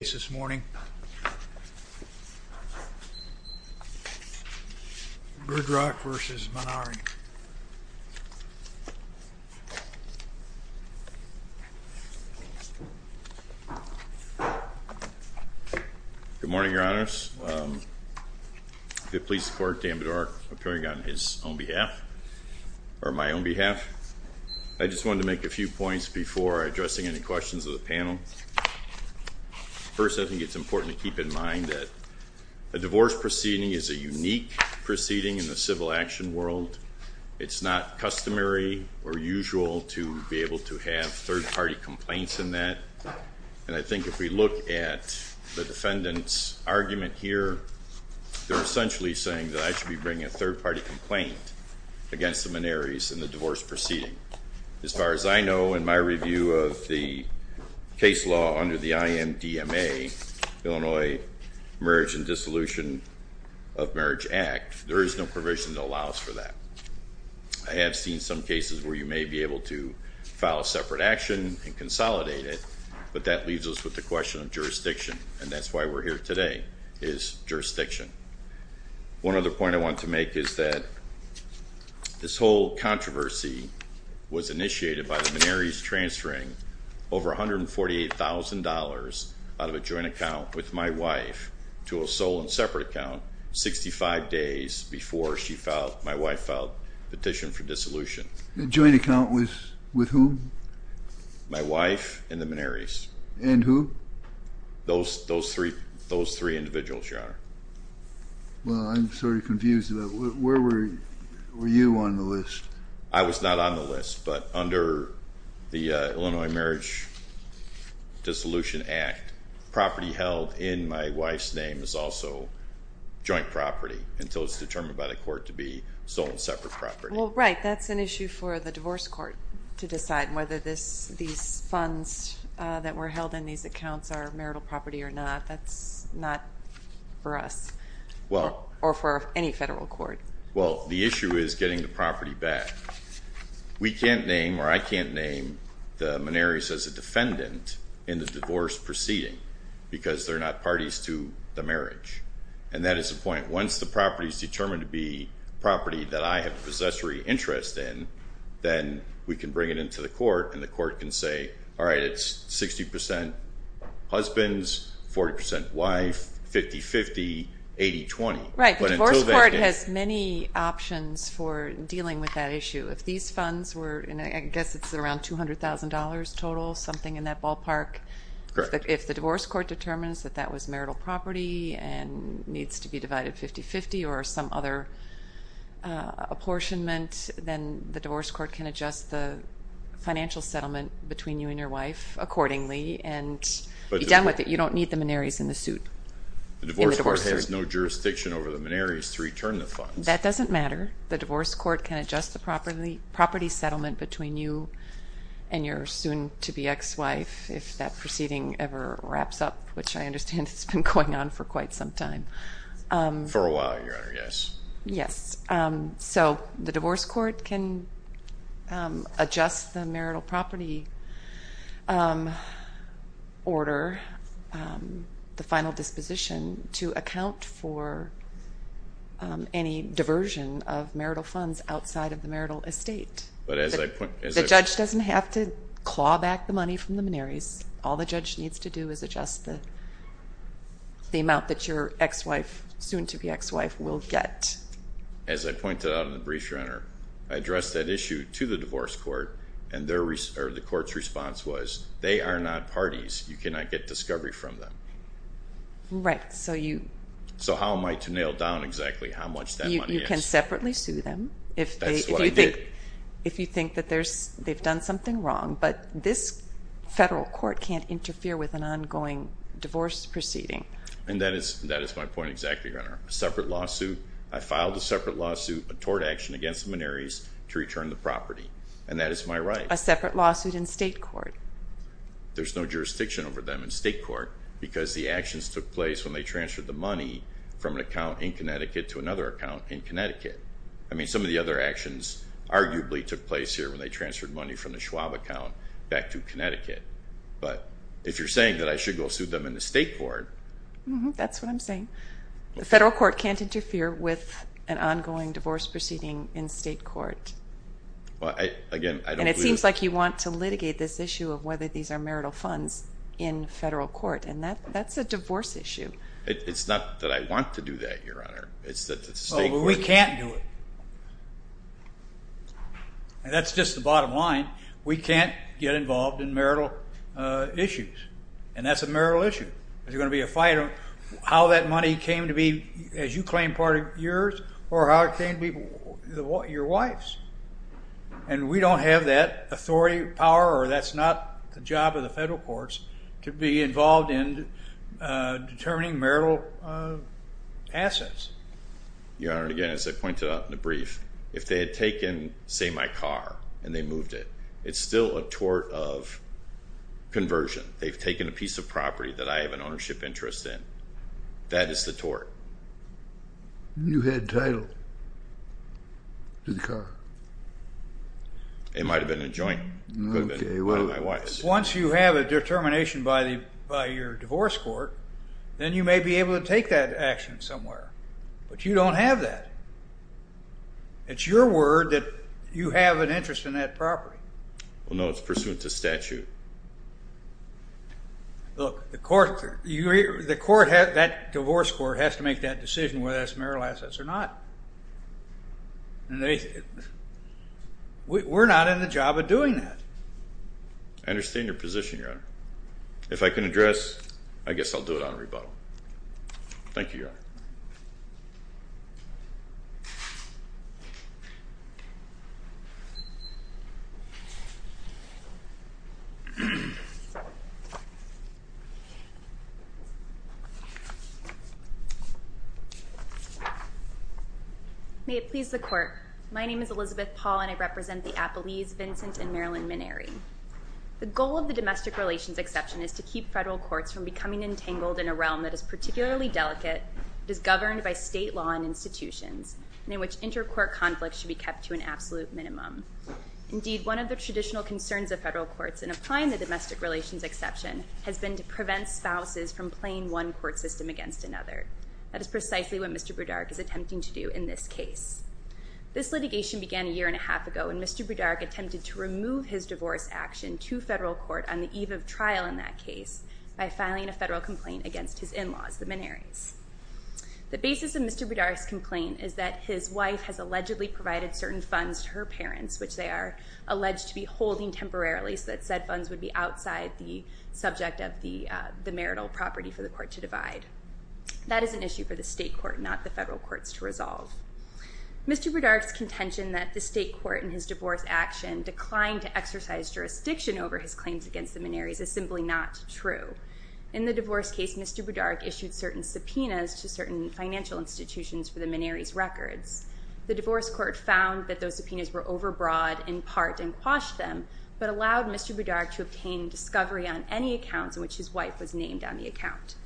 Good morning, your honors. I'd like to please support Dan Budorick appearing on his own behalf, or my own behalf. I just wanted to make a few points before addressing any questions of the panel. First, I think it's important to keep in mind that a divorce proceeding is a unique proceeding in the civil action world. It's not customary or usual to be able to have third-party complaints in that, and I think if we look at the defendant's argument here, they're essentially saying that I should be bringing a third-party complaint against the Maneris in the divorce proceeding. As far as I know, in my review of the case law under the IMDMA, Illinois Marriage and Dissolution of Marriage Act, there is no provision that allows for that. I have seen some cases where you may be able to file a separate action and consolidate it, but that leaves us with the question of jurisdiction, and that's why we're here today, is jurisdiction. One other point I want to make is that this whole controversy was initiated by the Maneris transferring over $148,000 out of a joint account with my wife to a sole and separate account 65 days before my wife filed a petition for dissolution. The joint account was with whom? My wife and the Maneris. And who? Those three individuals, Your Honor. Well, I'm sort of confused about where were you on the list? I was not on the list, but under the Illinois Marriage Dissolution Act, property held in my wife's name is also joint property until it's determined by the court to be sole and separate property. Well, right, that's an issue for the divorce court to decide, whether these funds that were held in these accounts are marital property or not. That's not for us or for any federal court. Well, the issue is getting the property back. We can't name, or I can't name, the Maneris as a defendant in the divorce proceeding because they're not parties to the marriage. And that is the point. Once the property is determined to be property that I have possessory interest in, then we can bring it into the court and the court can say, all right, it's 60% husbands, 40% wife, 50-50, 80-20. Right. The divorce court has many options for dealing with that issue. If these funds were, I guess it's around $200,000 total, something in that ballpark. Correct. If the divorce court determines that that was marital property and needs to be divided 50-50 or some other apportionment, then the divorce court can adjust the financial settlement between you and your wife accordingly and be done with it. You don't need the Maneris in the suit. The divorce court has no jurisdiction over the Maneris to return the funds. That doesn't matter. The divorce court can adjust the property settlement between you and your soon-to-be ex-wife, if that proceeding ever wraps up, which I understand has been going on for quite some time. For a while, Your Honor, yes. Yes. So the divorce court can adjust the marital property order, the final disposition, to account for any diversion of marital funds outside of the marital estate. The judge doesn't have to claw back the money from the Maneris. All the judge needs to do is adjust the amount that your ex-wife, soon-to-be ex-wife, will get. As I pointed out in the brief, Your Honor, I addressed that issue to the divorce court, and the court's response was, they are not parties. You cannot get discovery from them. Right. So how am I to nail down exactly how much that money is? You can separately sue them. That's what I did. If you think that they've done something wrong. But this federal court can't interfere with an ongoing divorce proceeding. And that is my point exactly, Your Honor. A separate lawsuit. I filed a separate lawsuit, a tort action, against the Maneris to return the property. And that is my right. A separate lawsuit in state court. There's no jurisdiction over them in state court because the actions took place when they transferred the money from an account in Connecticut to another account in Connecticut. I mean, some of the other actions arguably took place here when they transferred money from the Schwab account back to Connecticut. But if you're saying that I should go sue them in the state court. That's what I'm saying. The federal court can't interfere with an ongoing divorce proceeding in state court. Again, I don't believe that. And it seems like you want to litigate this issue of whether these are marital funds in federal court. And that's a divorce issue. It's not that I want to do that, Your Honor. Oh, but we can't do it. And that's just the bottom line. We can't get involved in marital issues. And that's a marital issue. There's going to be a fight on how that money came to be, as you claim, part of yours or how it came to be your wife's. And we don't have that authority, power, that's not the job of the federal courts to be involved in determining marital assets. Your Honor, again, as I pointed out in the brief, if they had taken, say, my car and they moved it, it's still a tort of conversion. They've taken a piece of property that I have an ownership interest in. That is the tort. You had title to the car. It might have been a joint. It could have been my wife's. Once you have a determination by your divorce court, then you may be able to take that action somewhere. But you don't have that. It's your word that you have an interest in that property. Well, no, it's pursuant to statute. Look, that divorce court has to make that decision whether that's marital assets or not. We're not in the job of doing that. I understand your position, Your Honor. If I can address, I guess I'll do it on rebuttal. Thank you, Your Honor. May it please the Court, my name is Elizabeth Paul, and I represent the Appalese, Vincent, and Marilyn Minary. The goal of the domestic relations exception is to keep federal courts from becoming entangled in a realm that is particularly delicate, that is governed by state law and institutions, and in which intercourt conflicts should be kept to an absolute minimum. Indeed, one of the traditional concerns of federal courts in applying the domestic relations exception has been to prevent spouses from playing one court system against another. That is precisely what Mr. Brodark is attempting to do in this case. This litigation began a year and a half ago, and Mr. Brodark attempted to remove his divorce action to federal court on the eve of trial in that case by filing a federal complaint against his in-laws, the Minaries. The basis of Mr. Brodark's complaint is that his wife has allegedly provided certain funds to her parents, which they are alleged to be holding temporarily, so that said funds would be outside the subject of the marital property for the court to divide. That is an issue for the state court, not the federal courts, to resolve. Mr. Brodark's contention that the state court in his divorce action declined to exercise jurisdiction over his claims against the Minaries is simply not true. In the divorce case, Mr. Brodark issued certain subpoenas to certain financial institutions for the Minaries' records. The divorce court found that those subpoenas were overbroad in part and quashed them, but allowed Mr. Brodark to obtain discovery on any accounts in which his wife was named on the account.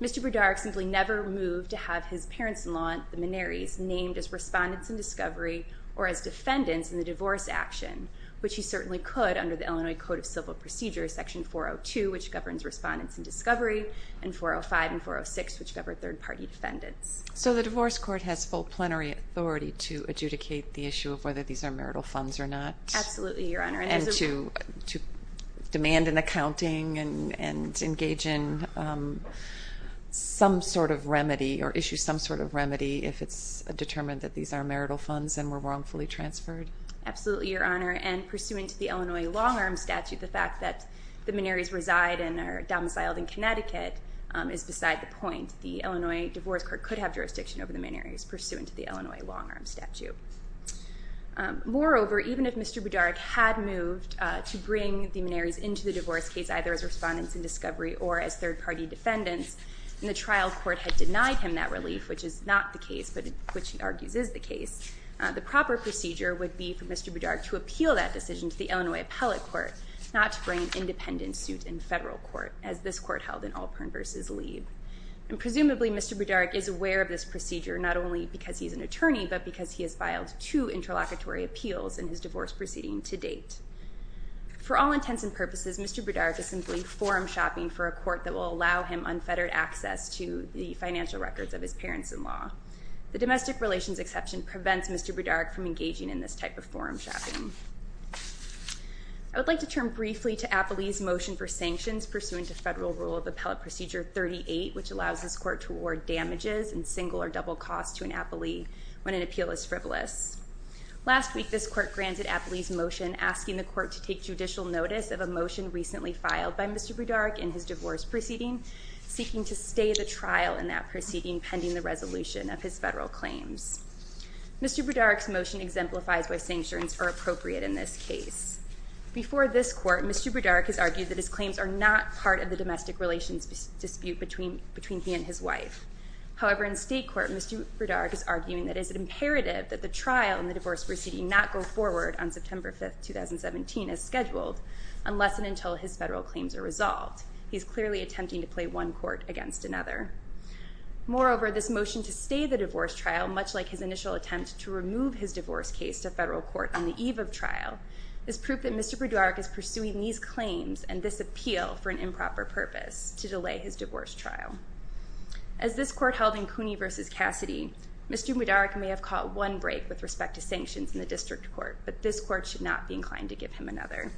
Mr. Brodark simply never moved to have his parents-in-law, the Minaries, named as respondents in discovery or as defendants in the divorce action, which he certainly could under the Illinois Code of Civil Procedures, Section 402, which governs respondents in discovery, and 405 and 406, which govern third-party defendants. So the divorce court has full plenary authority to adjudicate the issue of whether these are marital funds or not? Absolutely, Your Honor. And to demand an accounting and engage in some sort of remedy or issue some sort of remedy if it's determined that these are marital funds and were wrongfully transferred? Absolutely, Your Honor. And pursuant to the Illinois long-arm statute, the fact that the Minaries reside and are domiciled in Connecticut is beside the point. The Illinois divorce court could have jurisdiction over the Minaries pursuant to the Illinois long-arm statute. Moreover, even if Mr. Budarek had moved to bring the Minaries into the divorce case, either as respondents in discovery or as third-party defendants, and the trial court had denied him that relief, which is not the case, but which he argues is the case, the proper procedure would be for Mr. Budarek to appeal that decision to the Illinois appellate court, not to bring an independent suit in federal court, as this court held in Alpern v. Lee. And presumably, Mr. Budarek is aware of this procedure, not only because he's an attorney, but because he has filed two interlocutory appeals in his divorce proceeding to date. For all intents and purposes, Mr. Budarek is simply forum shopping for a court that will allow him unfettered access to the financial records of his parents-in-law. The domestic relations exception prevents Mr. Budarek from engaging in this type of forum shopping. I would like to turn briefly to Appley's motion for sanctions pursuant to Federal Rule of Appellate Procedure 38, which allows this court to award damages in single or double cost to an appellee when an appeal is frivolous. Last week, this court granted Appley's motion asking the court to take judicial notice of a motion recently filed by Mr. Budarek in his divorce proceeding, seeking to stay the trial in that proceeding pending the resolution of his federal claims. Mr. Budarek's motion exemplifies why sanctions are appropriate in this case. Before this court, Mr. Budarek has argued that his claims are not part of the domestic relations dispute between he and his wife. However, in state court, Mr. Budarek is arguing that it is imperative that the trial in the divorce proceeding not go forward on September 5, 2017 as scheduled unless and until his federal claims are resolved. He is clearly attempting to play one court against another. Moreover, this motion to stay the divorce trial, much like his initial attempt to remove his divorce case to federal court on the eve of trial, is proof that Mr. Budarek is pursuing these claims and this appeal for an improper purpose to delay his divorce trial. As this court held in Cooney v. Cassidy, Mr. Budarek may have caught one break with respect to sanctions in the district court, but this court should not be inclined to give him another.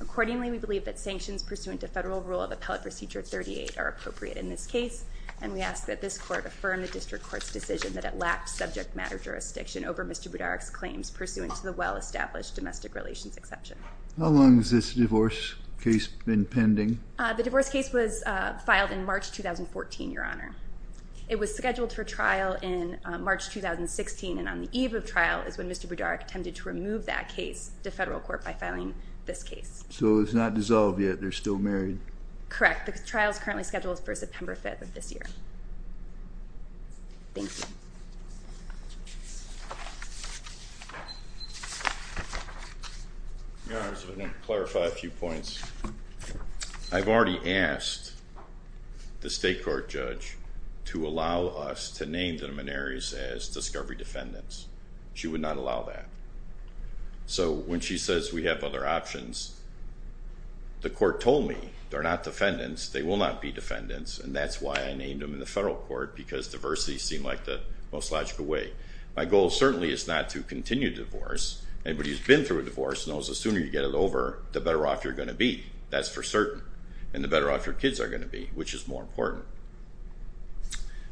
Accordingly, we believe that sanctions pursuant to federal rule of appellate procedure 38 are appropriate in this case, and we ask that this court affirm the district court's decision that it lacked subject matter jurisdiction over Mr. Budarek's claims pursuant to the well-established domestic relations exception. How long has this divorce case been pending? The divorce case was filed in March 2014, Your Honor. It was scheduled for trial in March 2016, and on the eve of trial is when Mr. Budarek attempted to remove that case to federal court by filing this case. So it's not dissolved yet. They're still married. Correct. The trial is currently scheduled for September 5 of this year. Thank you. Your Honor, I just want to clarify a few points. I've already asked the state court judge to allow us to name the Menaris as discovery defendants. She would not allow that. So when she says we have other options, the court told me they're not defendants, they will not be defendants, and that's why I named them in the federal court, because diversity seemed like the most logical way. My goal certainly is not to continue the divorce. Anybody who's been through a divorce knows the sooner you get it over, the better off you're going to be. That's for certain. And the better off your kids are going to be, which is more important.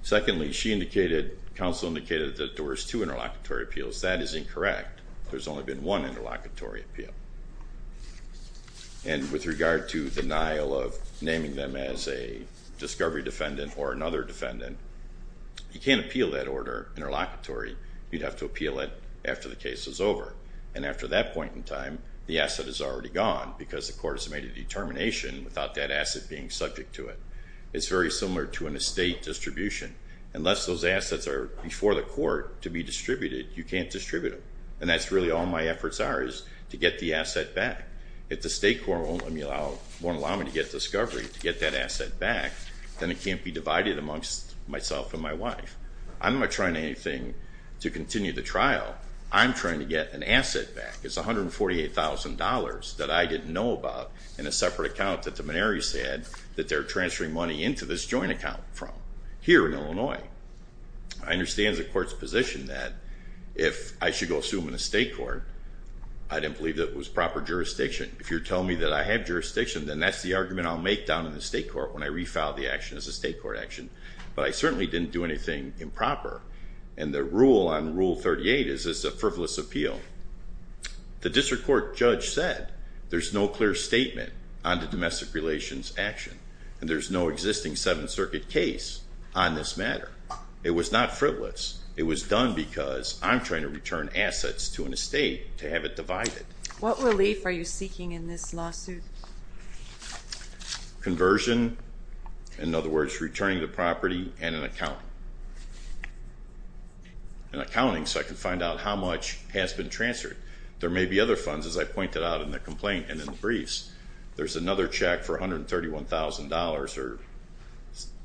Secondly, she indicated, counsel indicated, that there was two interlocutory appeals. That is incorrect. There's only been one interlocutory appeal. And with regard to denial of naming them as a discovery defendant or another defendant, you can't appeal that order interlocutory. You'd have to appeal it after the case is over. And after that point in time, the asset is already gone, because the court has made a determination without that asset being subject to it. It's very similar to an estate distribution. Unless those assets are before the court to be distributed, you can't distribute them. And that's really all my efforts are, is to get the asset back. If the state court won't allow me to get discovery, to get that asset back, then it can't be divided amongst myself and my wife. I'm not trying anything to continue the trial. I'm trying to get an asset back. It's $148,000 that I didn't know about in a separate account that the Maneri said that they're transferring money into this joint account from, here in Illinois. I understand the court's position that if I should go sue them in the state court, I didn't believe that it was proper jurisdiction. If you're telling me that I have jurisdiction, then that's the argument I'll make down in the state court when I refile the action as a state court action. But I certainly didn't do anything improper. And the rule on Rule 38 is it's a frivolous appeal. The district court judge said there's no clear statement on the domestic relations action. And there's no existing Seventh Circuit case on this matter. It was not frivolous. It was done because I'm trying to return assets to an estate to have it divided. What relief are you seeking in this lawsuit? Conversion. In other words, returning the property and an account. An accounting, so I can find out how much has been transferred. There may be other funds, as I pointed out in the complaint and in the briefs. There's another check for $131,000 or,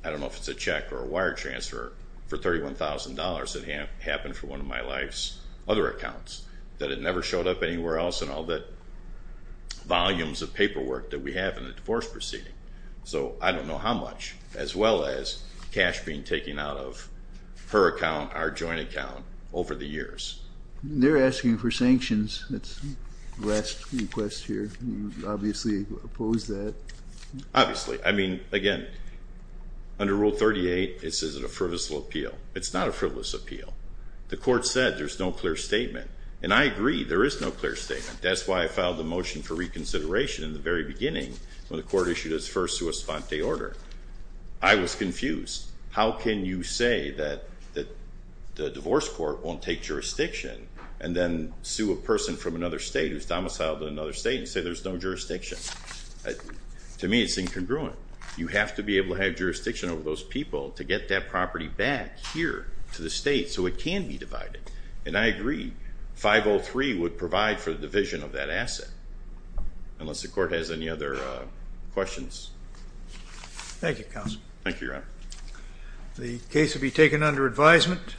I don't know if it's a check or a wire transfer, for $31,000 that happened for one of my wife's other accounts that it never showed up anywhere else in all the volumes of paperwork that we have in the divorce proceeding. So I don't know how much. As well as cash being taken out of her account, our joint account, over the years. They're asking for sanctions. That's the last request here. You obviously oppose that. Obviously. I mean, again, under Rule 38 it says it's a frivolous appeal. It's not a frivolous appeal. The court said there's no clear statement. And I agree, there is no clear statement. That's why I filed a motion for reconsideration in the very beginning when the court issued its first sua sponte order. I was confused. How can you say that the divorce court won't take jurisdiction and then sue a person from another state who's domiciled in another state and say there's no jurisdiction? To me, it's incongruent. You have to be able to have jurisdiction over those people to get that property back here to the state so it can be divided. And I agree. 503 would provide for the division of that asset. Unless the court has any other questions. Thank you, Counsel. Thank you, Your Honor. The case will be taken under advisement.